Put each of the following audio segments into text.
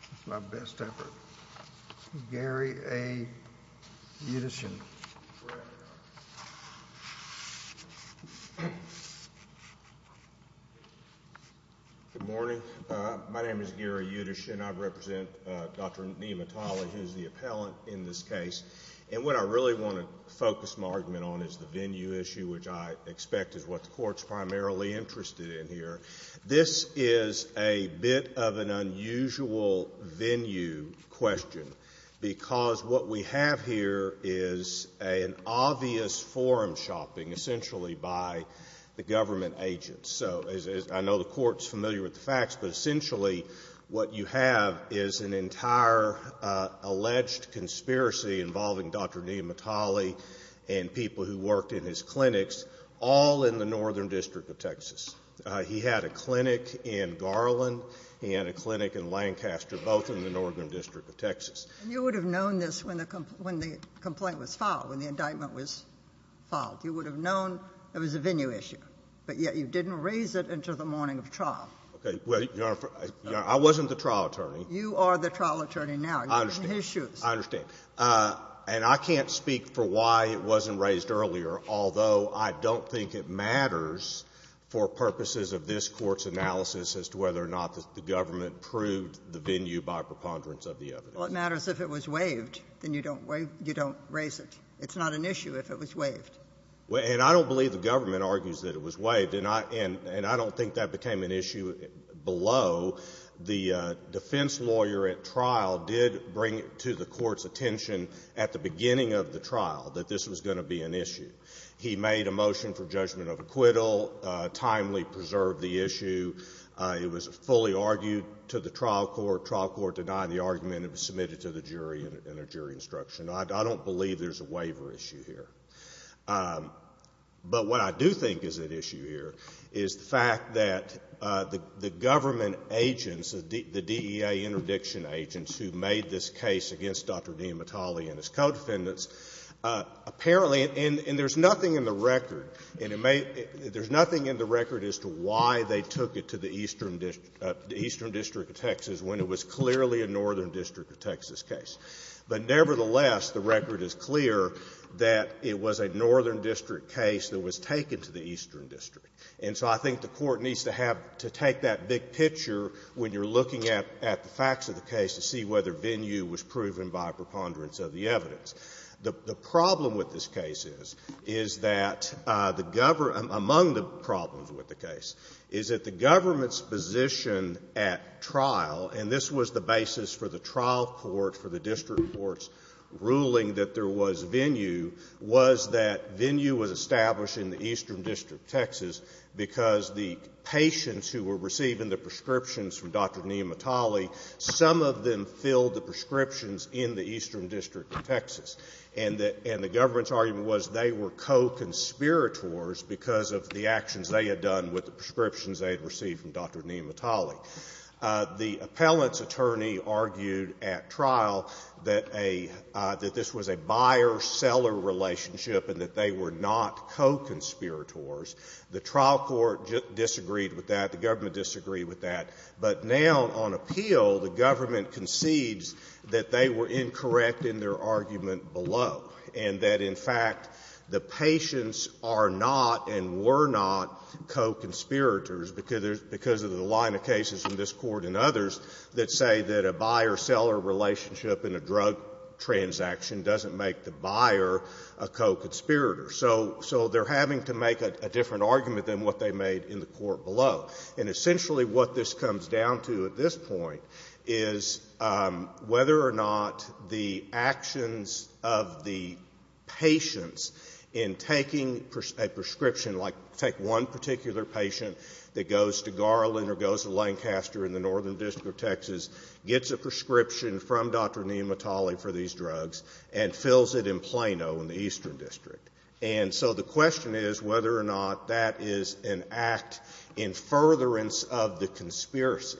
That's my best effort. Gary A. Yudishin. Good morning. My name is Gary Yudishin. I represent Dr. Niamatali, who's the appellant in this case. And what I really want to focus my argument on is the venue issue, which I expect is what the court's primarily interested in here. This is a bit of an unusual venue question, because what we have here is an obvious forum shopping, essentially, by the government agents. So I know the court's familiar with the facts, but essentially what you have is an entire alleged conspiracy involving Dr. Niamatali and people who worked in his clinics, all in the Northern District of Texas. He had a clinic in Garland. He had a clinic in Lancaster, both in the Northern District of Texas. And you would have known this when the complaint was filed, when the indictment was filed. You would have known it was a venue issue, but yet you didn't raise it until the morning of trial. Okay. Well, Your Honor, I wasn't the trial attorney. You are the trial attorney now. I understand. You're in his shoes. I understand. And I can't speak for why it wasn't raised earlier, although I don't think it matters for purposes of this Court's analysis as to whether or not the government proved the venue by preponderance of the evidence. Well, it matters if it was waived. Then you don't raise it. It's not an issue if it was waived. And I don't believe the government argues that it was waived, and I don't think that became an issue below. The defense lawyer at trial did bring to the Court's attention at the beginning of the trial that this was going to be an issue. He made a motion for judgment of acquittal, timely preserved the issue. It was fully argued to the trial court. Trial court denied the argument. It was submitted to the jury in a jury instruction. I don't believe there's a waiver issue here. But what I do think is at issue here is the fact that the government agents, the DEA interdiction agents who made this case against Dr. Dean Mitali and his co-defendants, apparently, and there's nothing in the record, and there's nothing in the record as to why they took it to the Eastern District of Texas when it was clearly a Northern District of Texas case. But nevertheless, the record is clear that it was a Northern District case that was taken to the Eastern District. And so I think the Court needs to have to take that big picture when you're looking at the facts of the case to see whether venue was proven by a preponderance of the evidence. The problem with this case is, is that the government, among the problems with the case, is that the government's position at trial, and this was the basis for the trial court, for the district court's ruling that there was venue, was that venue was established in the Eastern District of Texas because the patients who were receiving the prescriptions from Dr. Dean Mitali, some of them filled the prescriptions in the Eastern District of Texas. And the government's argument was they were co-conspirators because of the actions they had done with the prescriptions they had received from Dr. Dean Mitali. The appellant's attorney argued at trial that a — that this was a buyer-seller relationship and that they were not co-conspirators. The trial court disagreed with that. The government disagreed with that. But now on appeal, the government concedes that they were incorrect in their argument below and that, in fact, the patients are not and were not co-conspirators because of the line of cases in this Court and others that say that a buyer-seller relationship in a drug transaction doesn't make the buyer a co-conspirator. So they're having to make a different argument than what they made in the court below. And essentially what this comes down to at this point is whether or not the actions of the patients in taking a prescription, like take one particular patient, that goes to Garland or goes to Lancaster in the Northern District of Texas, gets a prescription from Dr. Dean Mitali for these drugs, and fills it in Plano in the Eastern District. And so the question is whether or not that is an act in furtherance of the conspiracy.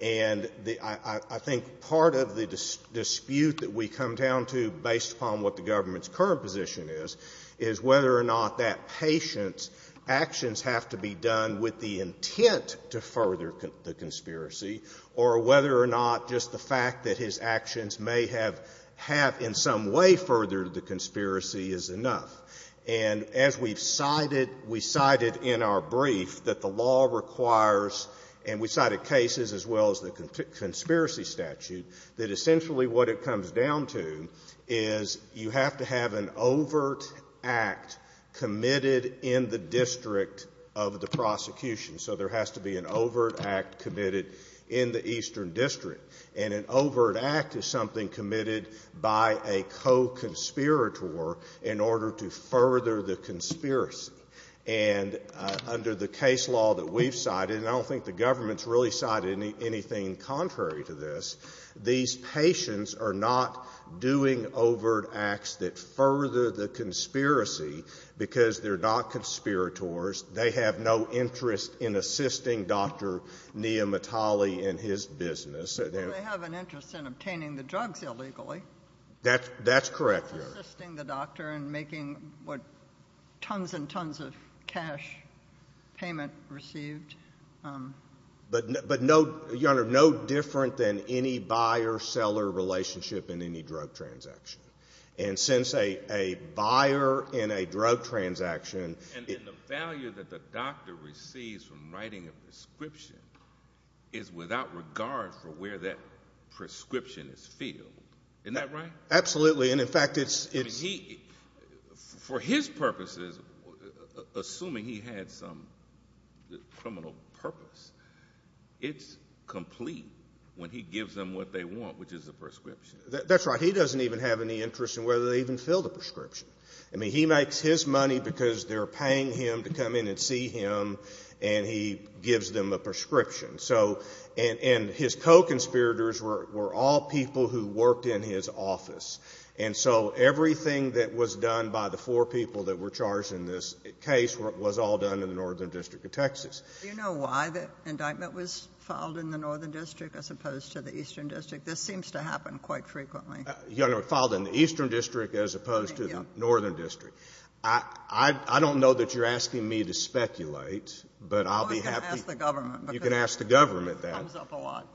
And I think part of the dispute that we come down to, based upon what the government's current position is, is whether or not that patient's actions have to be done with the intent to further the conspiracy or whether or not just the fact that his actions may have, have in some way furthered the conspiracy is enough. And as we've cited, we cited in our brief that the law requires, and we cited cases as well as the conspiracy statute, that essentially what it comes down to is you have to have an overt act committed in the district of the prosecution. So there has to be an overt act committed in the Eastern District. And an overt act is something committed by a co-conspirator in order to further the conspiracy. And under the case law that we've cited, and I don't think the government's really cited anything contrary to this, these patients are not doing overt acts that further the conspiracy because they're not conspirators. They have no interest in assisting Dr. Nia Mitali in his business. Well, they have an interest in obtaining the drugs illegally. That's correct. Assisting the doctor in making what tons and tons of cash payment received. But, Your Honor, no different than any buyer-seller relationship in any drug transaction. And since a buyer in a drug transaction. And the value that the doctor receives from writing a prescription is without regard for where that prescription is filled. Isn't that right? Absolutely. And, in fact, it's— For his purposes, assuming he had some criminal purpose, it's complete when he gives them what they want, which is a prescription. That's right. He doesn't even have any interest in whether they even fill the prescription. I mean, he makes his money because they're paying him to come in and see him, and he gives them a prescription. And his co-conspirators were all people who worked in his office. And so everything that was done by the four people that were charged in this case was all done in the Northern District of Texas. Do you know why the indictment was filed in the Northern District as opposed to the Eastern District? This seems to happen quite frequently. Your Honor, filed in the Eastern District as opposed to the Northern District. I don't know that you're asking me to speculate, but I'll be happy— It comes up a lot.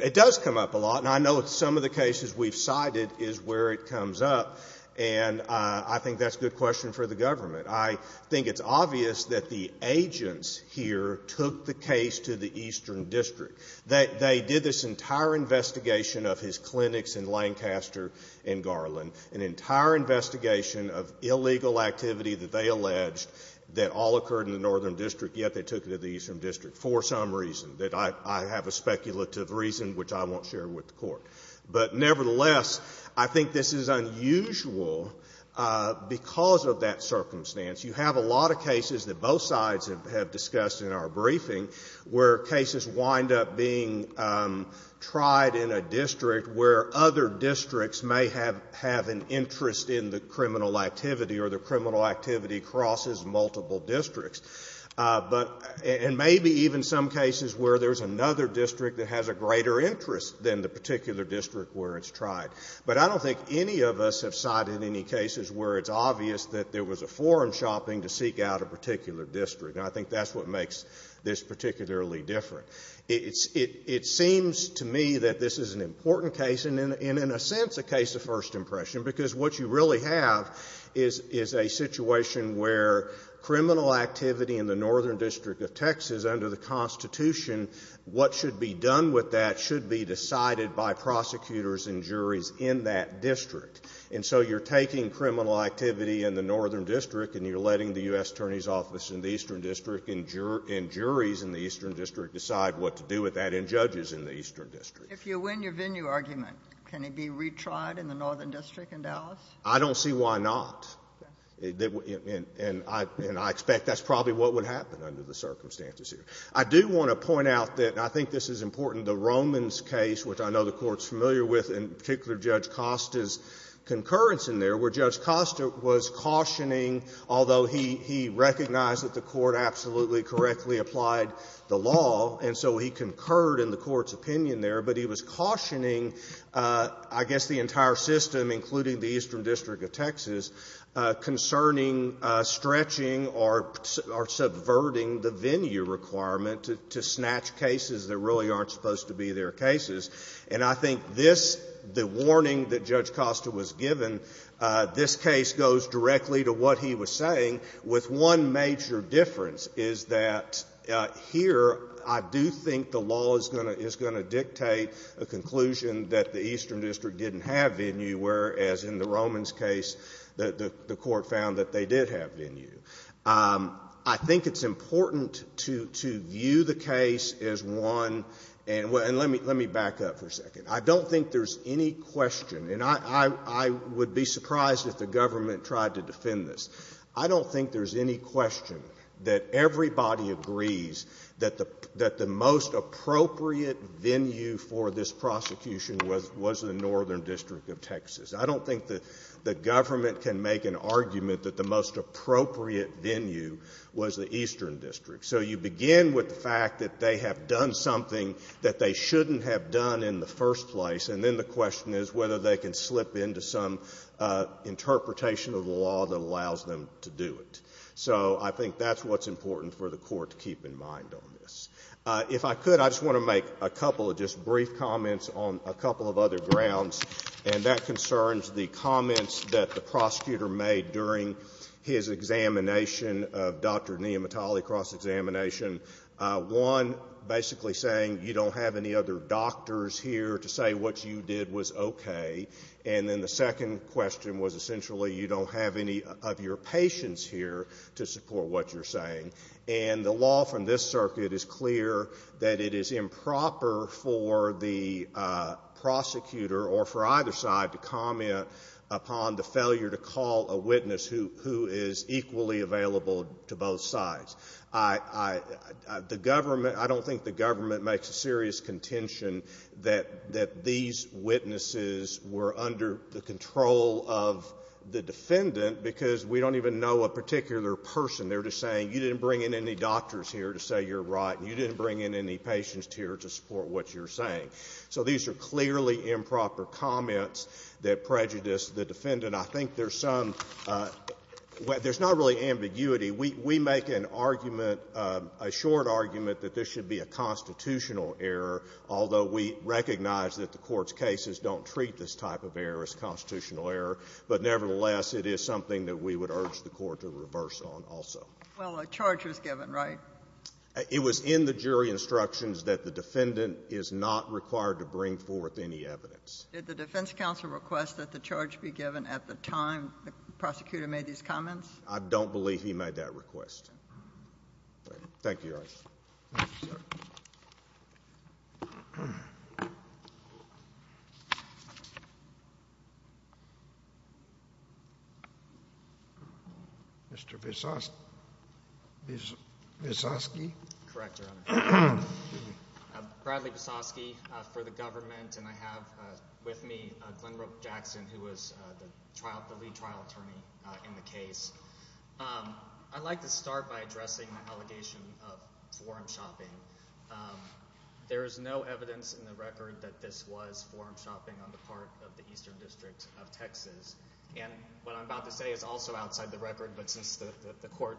It does come up a lot, and I know some of the cases we've cited is where it comes up, and I think that's a good question for the government. I think it's obvious that the agents here took the case to the Eastern District. They did this entire investigation of his clinics in Lancaster and Garland, an entire investigation of illegal activity that they alleged that all occurred in the Northern District, yet they took it to the Eastern District for some reason that I have a speculative reason which I won't share with the Court. But nevertheless, I think this is unusual because of that circumstance. You have a lot of cases that both sides have discussed in our briefing where cases wind up being tried in a district where other districts may have an interest in the criminal activity or the criminal activity crosses multiple districts. And maybe even some cases where there's another district that has a greater interest than the particular district where it's tried. But I don't think any of us have cited any cases where it's obvious that there was a forum shopping to seek out a particular district, and I think that's what makes this particularly different. It seems to me that this is an important case and, in a sense, a case of first impression because what you really have is a situation where criminal activity in the Northern District of Texas under the Constitution, what should be done with that should be decided by prosecutors and juries in that district. And so you're taking criminal activity in the Northern District and you're letting the U.S. Attorney's Office in the Eastern District and juries in the Eastern District decide what to do with that and judges in the Eastern District. If you win your venue argument, can it be retried in the Northern District in Dallas? I don't see why not. And I expect that's probably what would happen under the circumstances here. I do want to point out that I think this is important. The Romans case, which I know the Court's familiar with, in particular Judge Costa's concurrence in there, where Judge Costa was cautioning, although he recognized that the Court absolutely correctly applied the law and so he concurred in the Court's opinion there, but he was cautioning I guess the entire system, including the Eastern District of Texas, concerning stretching or subverting the venue requirement to snatch cases that really aren't supposed to be their cases. And I think this, the warning that Judge Costa was given, this case goes directly to what he was saying, with one major difference is that here I do think the law is going to dictate a conclusion that the Eastern District didn't have venue, whereas in the Romans case the Court found that they did have venue. I think it's important to view the case as one, and let me back up for a second. I don't think there's any question, and I would be surprised if the government tried to defend this. I don't think there's any question that everybody agrees that the most appropriate venue for this prosecution was the Northern District of Texas. I don't think the government can make an argument that the most appropriate venue was the Eastern District. So you begin with the fact that they have done something that they shouldn't have done in the first place, and then the question is whether they can slip into some interpretation of the law that allows them to do it. So I think that's what's important for the Court to keep in mind on this. If I could, I just want to make a couple of just brief comments on a couple of other grounds, and that concerns the comments that the prosecutor made during his examination of Dr. Nehemiah Talley, cross-examination. One, basically saying you don't have any other doctors here to say what you did was okay, and then the second question was essentially you don't have any of your patients here to support what you're saying. And the law from this circuit is clear that it is improper for the prosecutor or for either side to comment upon the failure to call a witness who is equally available to both sides. I don't think the government makes a serious contention that these witnesses were under the control of the defendant because we don't even know a particular person. They're just saying you didn't bring in any doctors here to say you're right, and you didn't bring in any patients here to support what you're saying. So these are clearly improper comments that prejudice the defendant. I think there's some – there's not really ambiguity. We make an argument, a short argument, that this should be a constitutional error, although we recognize that the Court's cases don't treat this type of error as constitutional error. But nevertheless, it is something that we would urge the Court to reverse on also. Well, a charge was given, right? It was in the jury instructions that the defendant is not required to bring forth any evidence. Did the defense counsel request that the charge be given at the time the prosecutor made these comments? I don't believe he made that request. Thank you, Your Honor. Thank you, sir. Mr. Visosky? Correct, Your Honor. Bradley Visosky for the government, and I have with me Glenbrook Jackson, who was the lead trial attorney in the case. I'd like to start by addressing the allegation of forum shopping. There is no evidence in the record that this was forum shopping on the part of the Eastern District of Texas. And what I'm about to say is also outside the record, but since the Court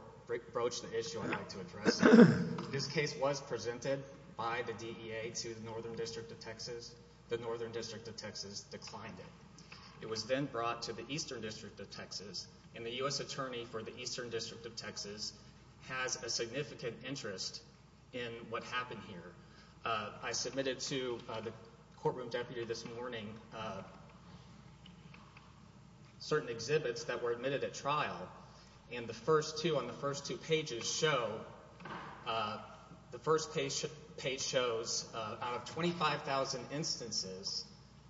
broached the issue, I'd like to address it. This case was presented by the DEA to the Northern District of Texas. The Northern District of Texas declined it. It was then brought to the Eastern District of Texas, and the U.S. attorney for the Eastern District of Texas has a significant interest in what happened here. I submitted to the courtroom deputy this morning certain exhibits that were admitted at trial, and the first two on the first two pages show, the first page shows out of 25,000 instances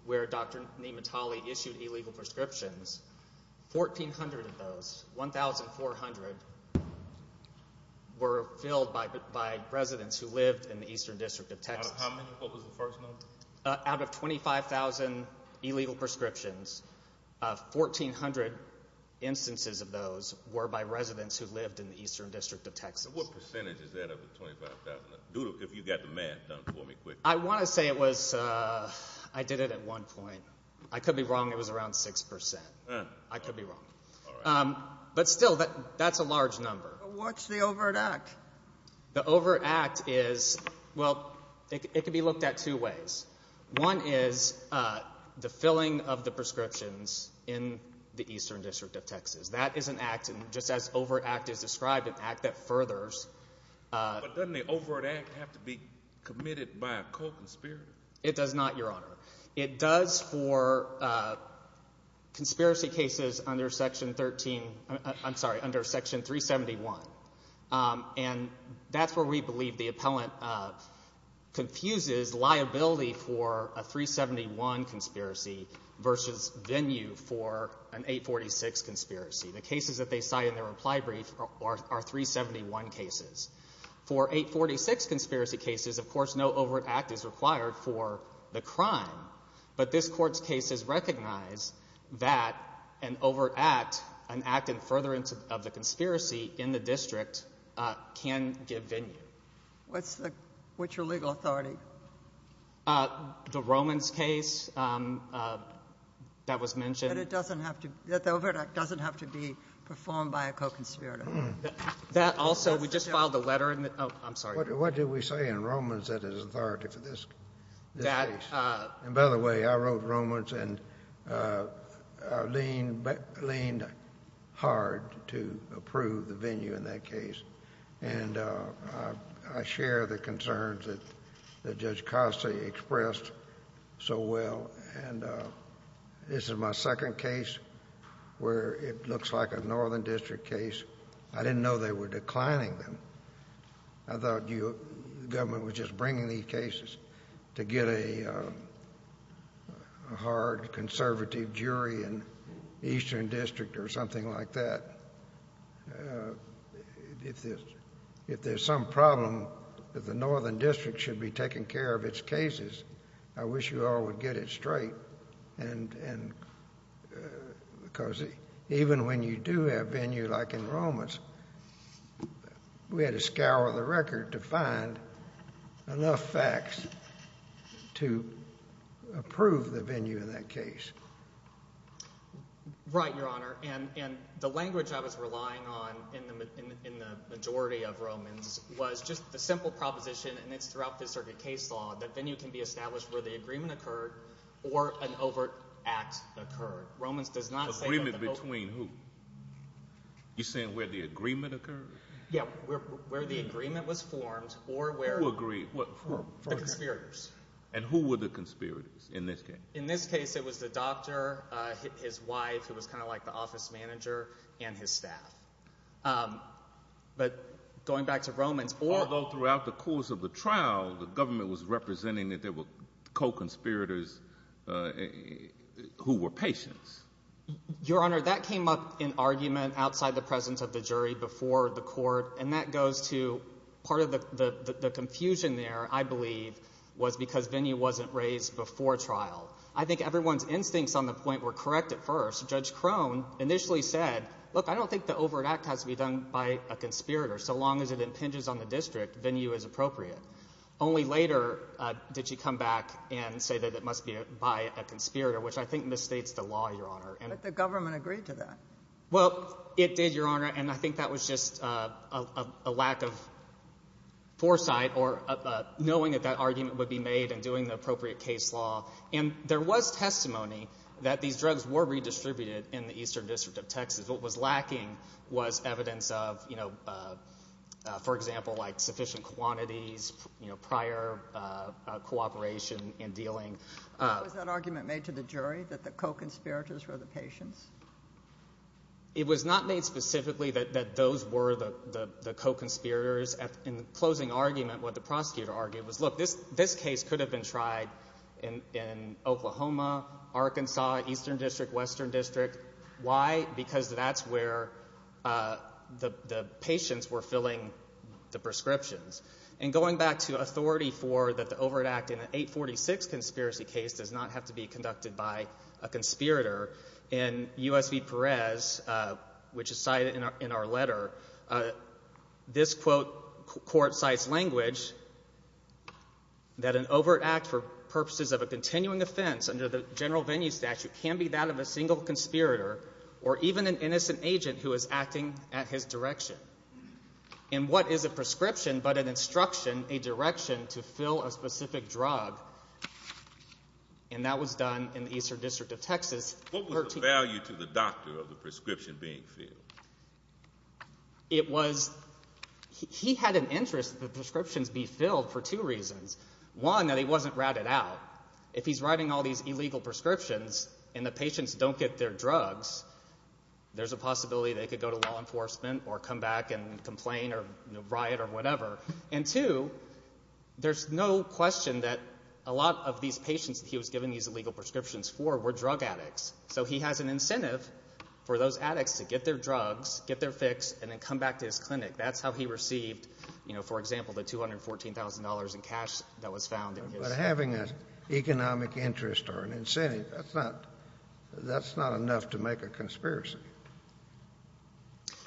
where Dr. Nematolley issued illegal prescriptions, 1,400 of those were filled by residents who lived in the Eastern District of Texas. Out of how many? What was the first number? Out of 25,000 illegal prescriptions, 1,400 instances of those were by residents who lived in the Eastern District of Texas. So what percentage is that of the 25,000? Doodle, if you got the math done for me quickly. I want to say it was, I did it at one point. I could be wrong, it was around 6%. I could be wrong. But still, that's a large number. What's the overt act? The overt act is, well, it can be looked at two ways. One is the filling of the prescriptions in the Eastern District of Texas. That is an act, and just as overt act is described, an act that furthers. But doesn't the overt act have to be committed by a co-conspirator? It does not, Your Honor. It does for conspiracy cases under Section 13, I'm sorry, under Section 371. And that's where we believe the appellant confuses liability for a 371 conspiracy versus venue for an 846 conspiracy. The cases that they cite in their reply brief are 371 cases. For 846 conspiracy cases, of course, no overt act is required for the crime. But this Court's cases recognize that an overt act, an act in furtherance of the conspiracy in the district, can give venue. What's your legal authority? The Romans case that was mentioned. But it doesn't have to be, the overt act doesn't have to be performed by a co-conspirator. That also, we just filed a letter in the, oh, I'm sorry. What did we say in Romans that is authority for this case? And by the way, I wrote Romans and leaned hard to approve the venue in that case. And I share the concerns that Judge Costa expressed so well. And this is my second case where it looks like a northern district case. I didn't know they were declining them. I thought the government was just bringing these cases to get a hard conservative jury in the eastern district or something like that. If there's some problem that the northern district should be taking care of its cases, I wish you all would get it straight. Because even when you do have venue like in Romans, we had to scour the record to find enough facts to approve the venue in that case. Right, Your Honor. And the language I was relying on in the majority of Romans was just the simple proposition, and it's throughout Fifth Circuit case law, that venue can be established where the agreement occurred or an overt act occurred. Romans does not say that the overt act occurred. Agreement between who? You're saying where the agreement occurred? Yeah, where the agreement was formed or where the conspirators. And who were the conspirators in this case? In this case, it was the doctor, his wife, who was kind of like the office manager, and his staff. But going back to Romans. Although throughout the course of the trial, the government was representing that there were co-conspirators who were patients. Your Honor, that came up in argument outside the presence of the jury before the court, and that goes to part of the confusion there, I believe, was because venue wasn't raised before trial. I think everyone's instincts on the point were correct at first. Judge Crone initially said, look, I don't think the overt act has to be done by a conspirator. So long as it impinges on the district, venue is appropriate. Only later did she come back and say that it must be by a conspirator, which I think misstates the law, Your Honor. But the government agreed to that. Well, it did, Your Honor, and I think that was just a lack of foresight or knowing that that argument would be made and doing the appropriate case law. And there was testimony that these drugs were redistributed in the Eastern District of Texas. What was lacking was evidence of, for example, like sufficient quantities, prior cooperation in dealing. Was that argument made to the jury that the co-conspirators were the patients? It was not made specifically that those were the co-conspirators. In the closing argument, what the prosecutor argued was, look, this case could have been tried in Oklahoma, Arkansas, Eastern District, Western District. Why? Because that's where the patients were filling the prescriptions. And going back to authority for that the overt act in an 846 conspiracy case does not have to be conducted by a conspirator, in U.S. v. Perez, which is cited in our letter, this, quote, court cites language that an overt act for purposes of a continuing offense under the general venue statute can be that of a single conspirator or even an innocent agent who is acting at his direction. And what is a prescription but an instruction, a direction to fill a specific drug? And that was done in the Eastern District of Texas. What was the value to the doctor of the prescription being filled? It was – he had an interest that the prescriptions be filled for two reasons. One, that he wasn't ratted out. If he's writing all these illegal prescriptions and the patients don't get their drugs, there's a possibility they could go to law enforcement or come back and complain or riot or whatever. And two, there's no question that a lot of these patients that he was giving these illegal prescriptions for were drug addicts. So he has an incentive for those addicts to get their drugs, get their fix, and then come back to his clinic. That's how he received, for example, the $214,000 in cash that was found in his clinic. But having an economic interest or an incentive, that's not enough to make a conspiracy.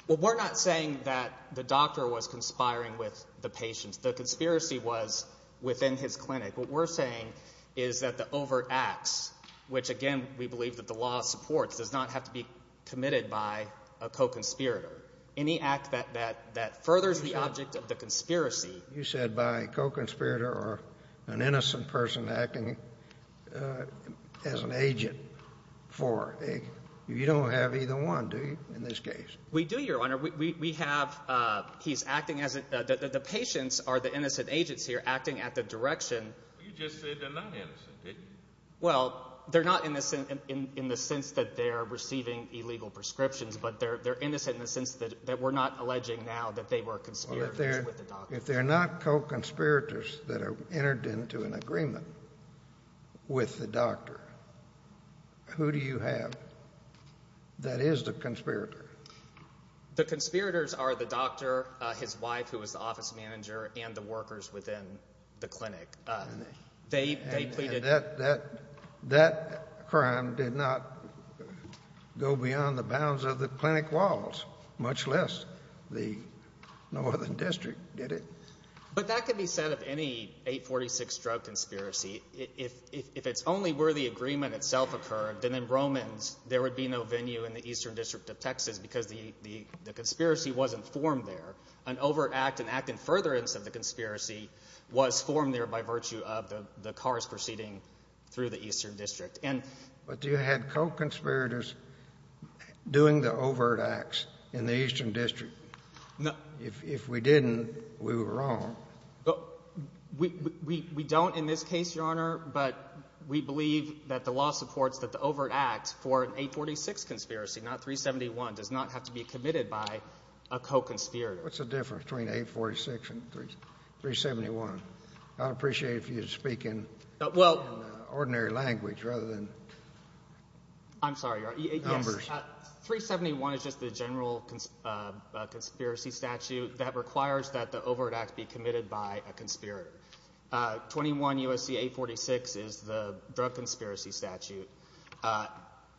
Well, we're not saying that the doctor was conspiring with the patients. The conspiracy was within his clinic. What we're saying is that the overt acts, which again we believe that the law supports, does not have to be committed by a co-conspirator. Any act that furthers the object of the conspiracy. You said by a co-conspirator or an innocent person acting as an agent for a – you don't have either one, do you, in this case? We do, Your Honor. We have – he's acting as a – the patients are the innocent agents here acting at the direction. You just said they're not innocent, didn't you? Well, they're not innocent in the sense that they're receiving illegal prescriptions, but they're innocent in the sense that we're not alleging now that they were conspiring with the doctor. If they're not co-conspirators that have entered into an agreement with the doctor, who do you have that is the conspirator? The conspirators are the doctor, his wife, who is the office manager, and the workers within the clinic. And that crime did not go beyond the bounds of the clinic walls, much less the northern district did it. But that could be said of any 846 drug conspiracy. If it's only where the agreement itself occurred, then in Romans there would be no venue in the eastern district of Texas because the conspiracy wasn't formed there. An overt act, an act in furtherance of the conspiracy, was formed there by virtue of the cars proceeding through the eastern district. But do you have co-conspirators doing the overt acts in the eastern district? If we didn't, we were wrong. We don't in this case, Your Honor, but we believe that the law supports that the overt act for an 846 conspiracy, not 371, does not have to be committed by a co-conspirator. What's the difference between 846 and 371? I'd appreciate it if you'd speak in ordinary language rather than numbers. I'm sorry, Your Honor. Yes, 371 is just the general conspiracy statute that requires that the overt act be committed by a conspirator. 21 U.S.C. 846 is the drug conspiracy statute,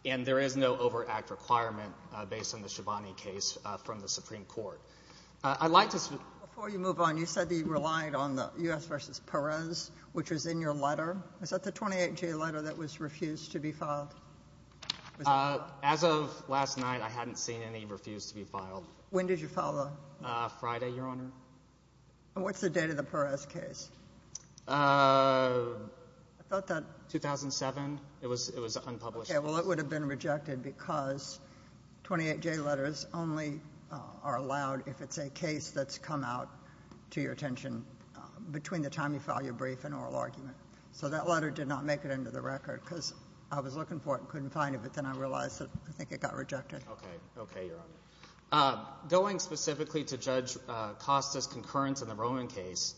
and there is no overt act requirement based on the Schiavone case from the Supreme Court. Before you move on, you said that you relied on the U.S. v. Perez, which was in your letter. Is that the 28-J letter that was refused to be filed? As of last night, I hadn't seen any refused to be filed. When did you file that? Friday, Your Honor. And what's the date of the Perez case? I thought that 2007. It was unpublished. Well, it would have been rejected because 28-J letters only are allowed if it's a case that's come out to your attention between the time you file your brief and oral argument. So that letter did not make it into the record because I was looking for it and couldn't find it, but then I realized that I think it got rejected. Okay. Okay, Your Honor. Going specifically to Judge Costa's concurrence in the Roman case,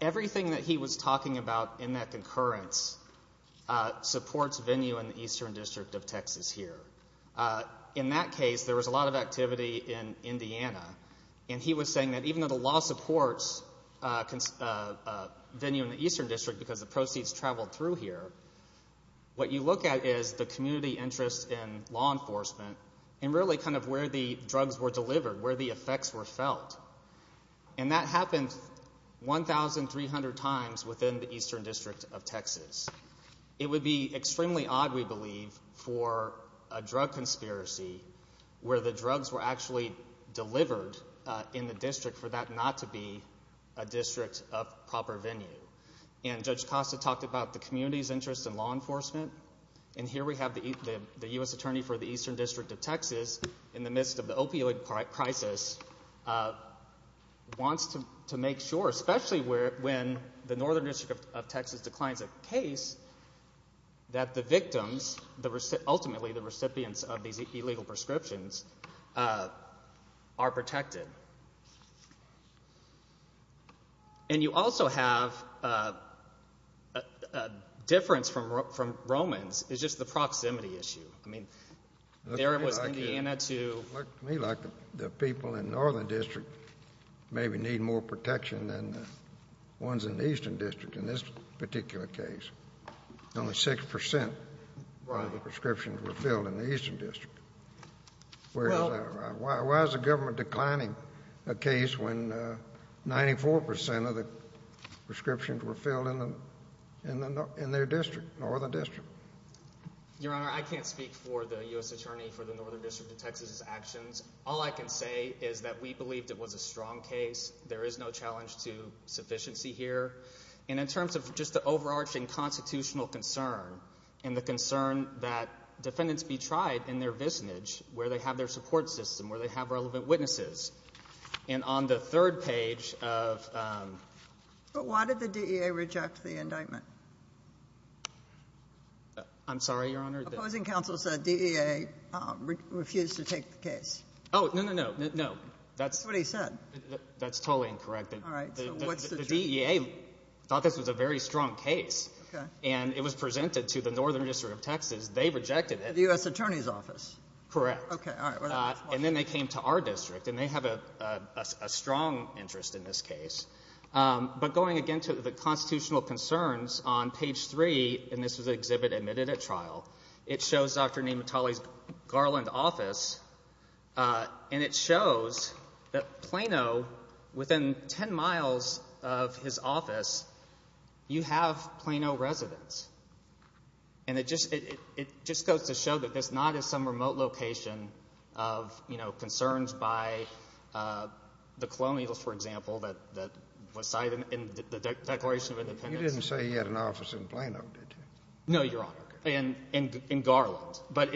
everything that he was talking about in that concurrence supports venue in the Eastern District of Texas here. In that case, there was a lot of activity in Indiana, and he was saying that even though the law supports venue in the Eastern District because the proceeds traveled through here, what you look at is the community interest in law enforcement and really kind of where the drugs were delivered, where the effects were felt. And that happened 1,300 times within the Eastern District of Texas. It would be extremely odd, we believe, for a drug conspiracy where the drugs were actually delivered in the district for that not to be a district of proper venue. And Judge Costa talked about the community's interest in law enforcement, and here we have the U.S. Attorney for the Eastern District of Texas in the midst of the opioid crisis wants to make sure, especially when the Northern District of Texas declines a case, that the victims, ultimately the recipients of these illegal prescriptions, are protected. And you also have a difference from Romans is just the proximity issue. I mean, there was Indiana to… It looked to me like the people in the Northern District maybe need more protection than the ones in the Eastern District in this particular case. Only 6% of the prescriptions were filled in the Eastern District. Why is the government declining a case when 94% of the prescriptions were filled in their district, Northern District? Your Honor, I can't speak for the U.S. Attorney for the Northern District of Texas' actions. All I can say is that we believed it was a strong case. There is no challenge to sufficiency here. And in terms of just the overarching constitutional concern and the concern that defendants be tried in their visnage where they have their support system, where they have relevant witnesses, and on the third page of… But why did the DEA reject the indictment? I'm sorry, Your Honor? Opposing counsel said DEA refused to take the case. Oh, no, no, no. That's what he said. That's totally incorrect. All right. So what's the truth? The DEA thought this was a very strong case, and it was presented to the Northern District of Texas. They rejected it. The U.S. Attorney's Office? Correct. Okay, all right. And then they came to our district, and they have a strong interest in this case. But going again to the constitutional concerns on page three, and this was an exhibit admitted at trial, it shows Dr. Nematolley's Garland office, and it shows that Plano, within ten miles of his office, you have Plano residents. And it just goes to show that this not is some remote location of concerns by the Colonials, for example, that was cited in the Declaration of Independence. You didn't say he had an office in Plano, did you? No, Your Honor, in Garland. But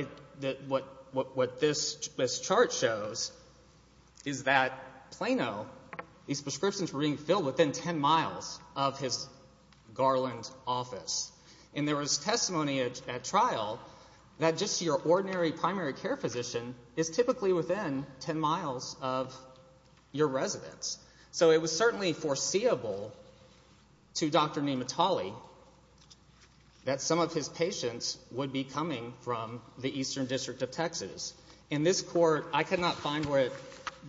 what this chart shows is that Plano, these prescriptions were being filled within ten miles of his Garland office. And there was testimony at trial that just your ordinary primary care physician is typically within ten miles of your residence. So it was certainly foreseeable to Dr. Nematolley that some of his patients would be coming from the Eastern District of Texas. In this court, I could not find where it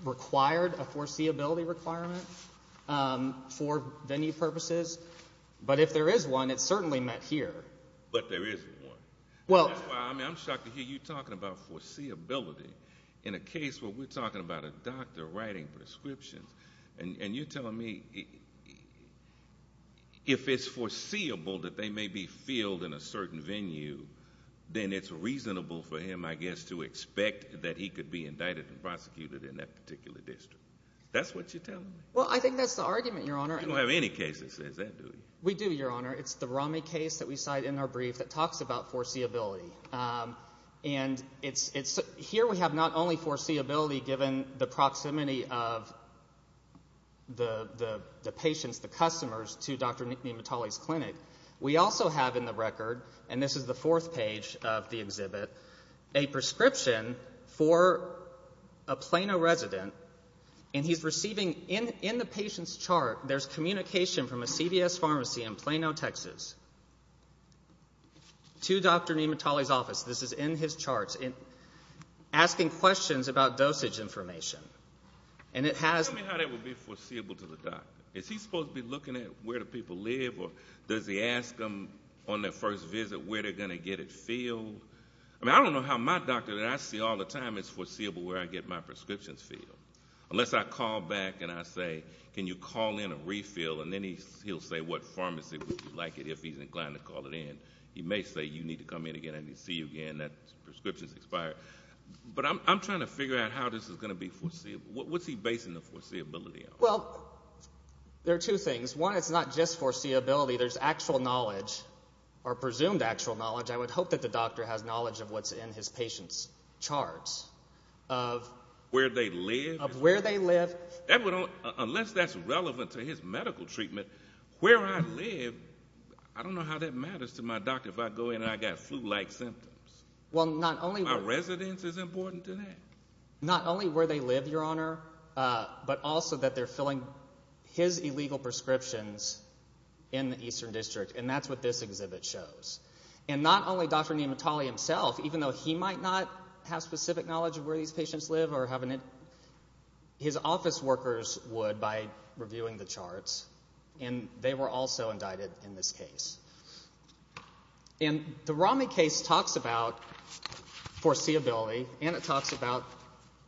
required a foreseeability requirement for venue purposes. But if there is one, it's certainly met here. But there isn't one. That's why I'm shocked to hear you talking about foreseeability in a case where we're talking about a doctor writing prescriptions. And you're telling me if it's foreseeable that they may be filled in a certain venue, then it's reasonable for him, I guess, to expect that he could be indicted and prosecuted in that particular district. That's what you're telling me? Well, I think that's the argument, Your Honor. You don't have any case that says that, do you? We do, Your Honor. It's the Rami case that we cite in our brief that talks about foreseeability. And here we have not only foreseeability given the proximity of the patients, the customers, to Dr. Nematolley's clinic. We also have in the record, and this is the fourth page of the exhibit, a prescription for a Plano resident. And he's receiving, in the patient's chart, there's communication from a CVS pharmacy in Plano, Texas, to Dr. Nematolley's office. This is in his charts, asking questions about dosage information. And it has... Tell me how that would be foreseeable to the doctor. Is he supposed to be looking at where the people live, or does he ask them on their first visit where they're going to get it filled? I mean, I don't know how my doctor, that I see all the time, is foreseeable where I get my prescriptions filled. Unless I call back and I say, can you call in a refill? And then he'll say what pharmacy would you like it if he's inclined to call it in. He may say you need to come in again and he'll see you again, that prescription's expired. But I'm trying to figure out how this is going to be foreseeable. What's he basing the foreseeability on? Well, there are two things. One, it's not just foreseeability. There's actual knowledge, or presumed actual knowledge. I would hope that the doctor has knowledge of what's in his patient's charts of where they live. Unless that's relevant to his medical treatment, where I live, I don't know how that matters to my doctor if I go in and I've got flu-like symptoms. My residence is important to that. Not only where they live, Your Honor, but also that they're filling his illegal prescriptions in the Eastern District. And that's what this exhibit shows. And not only Dr. Nematale himself, even though he might not have specific knowledge of where these patients live or have an in- his office workers would by reviewing the charts. And they were also indicted in this case. And the Romney case talks about foreseeability. And it talks about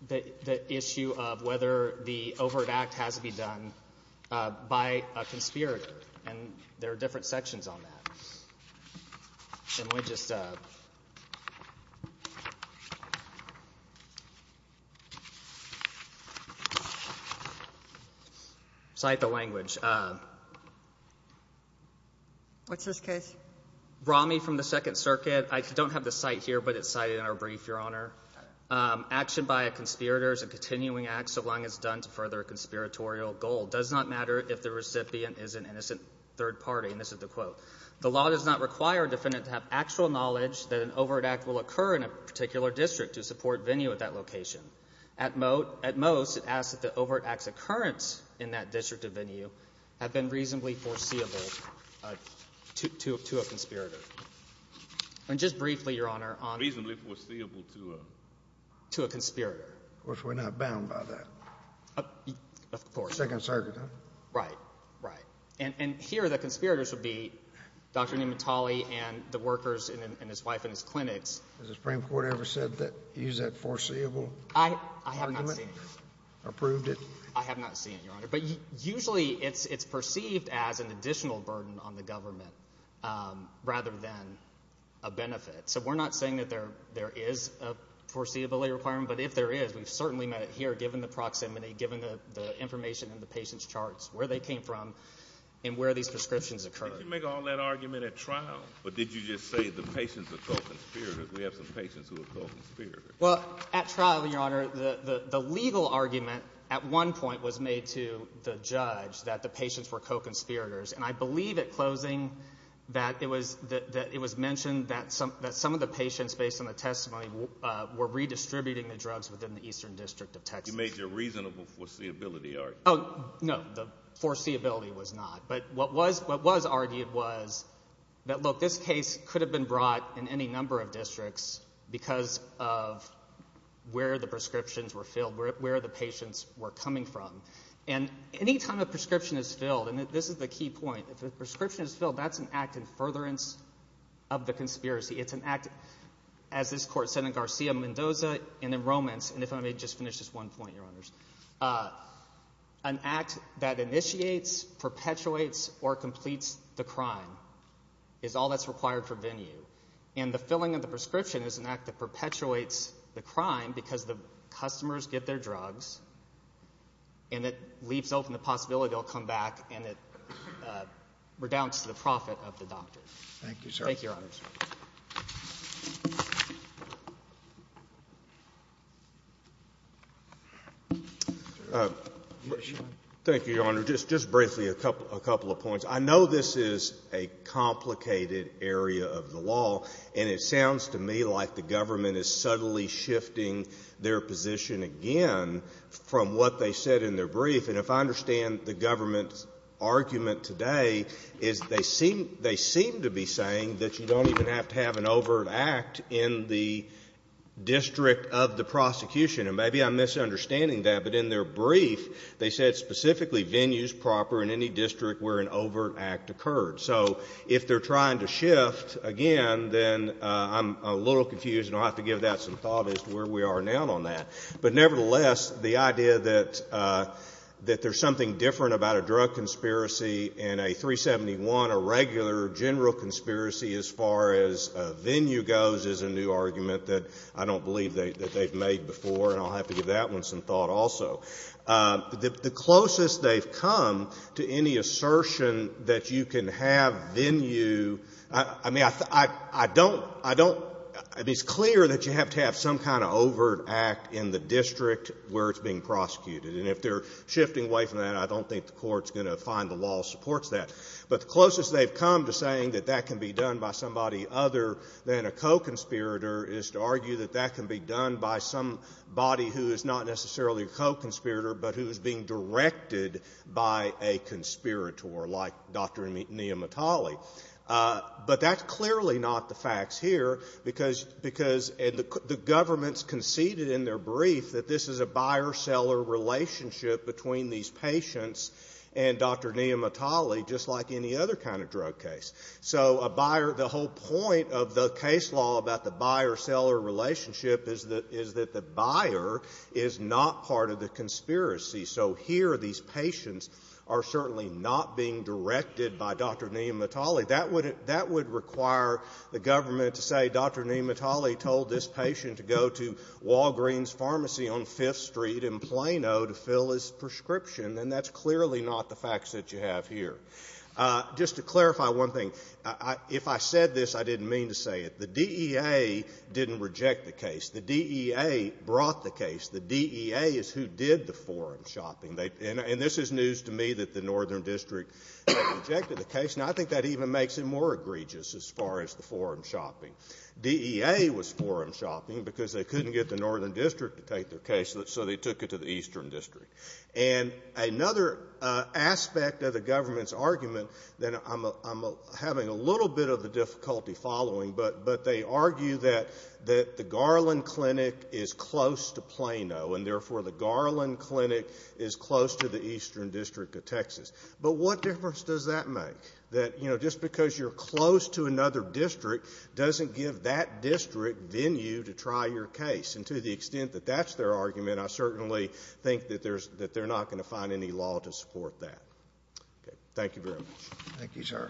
the issue of whether the overt act has to be done by a conspirator. And there are different sections on that. And we'll just cite the language. What's this case? Romney from the Second Circuit. I don't have the cite here, but it's cited in our brief, Your Honor. Action by a conspirator is a continuing act so long as it's done to further a conspiratorial goal. It does not matter if the recipient is an innocent third party. And this is the quote. The law does not require a defendant to have actual knowledge that an overt act will occur in a particular district to support venue at that location. At most, it asks that the overt act's occurrence in that district of venue have been reasonably foreseeable to a conspirator. And just briefly, Your Honor, on- Reasonably foreseeable to a- To a conspirator. Of course, we're not bound by that. Of course. Second Circuit, huh? Right, right. And here, the conspirators would be Dr. Nehmet Ali and the workers and his wife and his clinics. Has the Supreme Court ever said that, used that foreseeable argument? I have not seen it. Approved it? I have not seen it, Your Honor. But usually it's perceived as an additional burden on the government rather than a benefit. So we're not saying that there is a foreseeability requirement. But if there is, we've certainly met it here, given the proximity, given the information in the patient's charts, where they came from, and where these prescriptions occurred. Did you make all that argument at trial? Or did you just say the patients are called conspirators? We have some patients who are called conspirators. Well, at trial, Your Honor, the legal argument at one point was made to the judge that the patients were co-conspirators. And I believe at closing that it was mentioned that some of the patients, based on the testimony, were redistributing the drugs within the Eastern District of Texas. You made your reasonable foreseeability argument. Oh, no. The foreseeability was not. But what was argued was that, look, this case could have been brought in any number of districts because of where the prescriptions were filled, where the patients were coming from. And any time a prescription is filled, and this is the key point, if a prescription is filled, that's an act in furtherance of the conspiracy. It's an act, as this Court said in Garcia-Mendoza and in Romans, and if I may just finish this one point, Your Honors. An act that initiates, perpetuates, or completes the crime is all that's required for venue. And the filling of the prescription is an act that perpetuates the crime because the customers get their drugs, and it leaves open the possibility they'll come back, and it redounds to the profit of the doctor. Thank you, sir. Thank you, Your Honor. Just briefly a couple of points. I know this is a complicated area of the law, and it sounds to me like the government is subtly shifting their position again from what they said in their brief. And if I understand the government's argument today, is they seem to be saying that you don't even have to have an overt act in the district of the prosecution. And maybe I'm misunderstanding that, but in their brief, they said specifically venues proper in any district where an overt act occurred. So if they're trying to shift again, then I'm a little confused, and I'll have to give that some thought as to where we are now on that. But nevertheless, the idea that there's something different about a drug conspiracy and a 371, a regular general conspiracy as far as venue goes, is a new argument that I don't believe that they've made before, and I'll have to give that one some thought also. The closest they've come to any assertion that you can have venue — I mean, I don't — I mean, it's clear that you have to have some kind of overt act in the district where it's being prosecuted. And if they're shifting away from that, I don't think the Court's going to find the law supports that. But the closest they've come to saying that that can be done by somebody other than a co-conspirator is to argue that that can be done by somebody who is not necessarily a co-conspirator, but who is being directed by a conspirator, like Dr. Neha Mattali. But that's clearly not the facts here, because — and the government's conceded in their brief that this is a buyer-seller relationship between these patients and Dr. Neha Mattali, just like any other kind of drug case. So a buyer — the whole point of the case law about the buyer-seller relationship is that the buyer is not part of the conspiracy. So here, these patients are certainly not being directed by Dr. Neha Mattali. That would require the government to say, Dr. Neha Mattali told this patient to go to Walgreens Pharmacy on Fifth Street in Plano to fill his prescription, and that's clearly not the facts that you have here. Just to clarify one thing, if I said this, I didn't mean to say it. The DEA didn't reject the case. The DEA brought the case. The DEA is who did the forum shopping. And this is news to me that the Northern District rejected the case. Now, I think that even makes it more egregious as far as the forum shopping. DEA was forum shopping because they couldn't get the Northern District to take their case, so they took it to the Eastern District. And another aspect of the government's argument that I'm having a little bit of a difficulty following, but they argue that the Garland Clinic is close to Plano, and therefore the Garland Clinic is close to the Eastern District of Texas. But what difference does that make, that, you know, just because you're close to another district doesn't give that district venue to try your case? And to the extent that that's their argument, I certainly think that they're not going to find any law to support that. Okay. Thank you very much. Thank you, sir.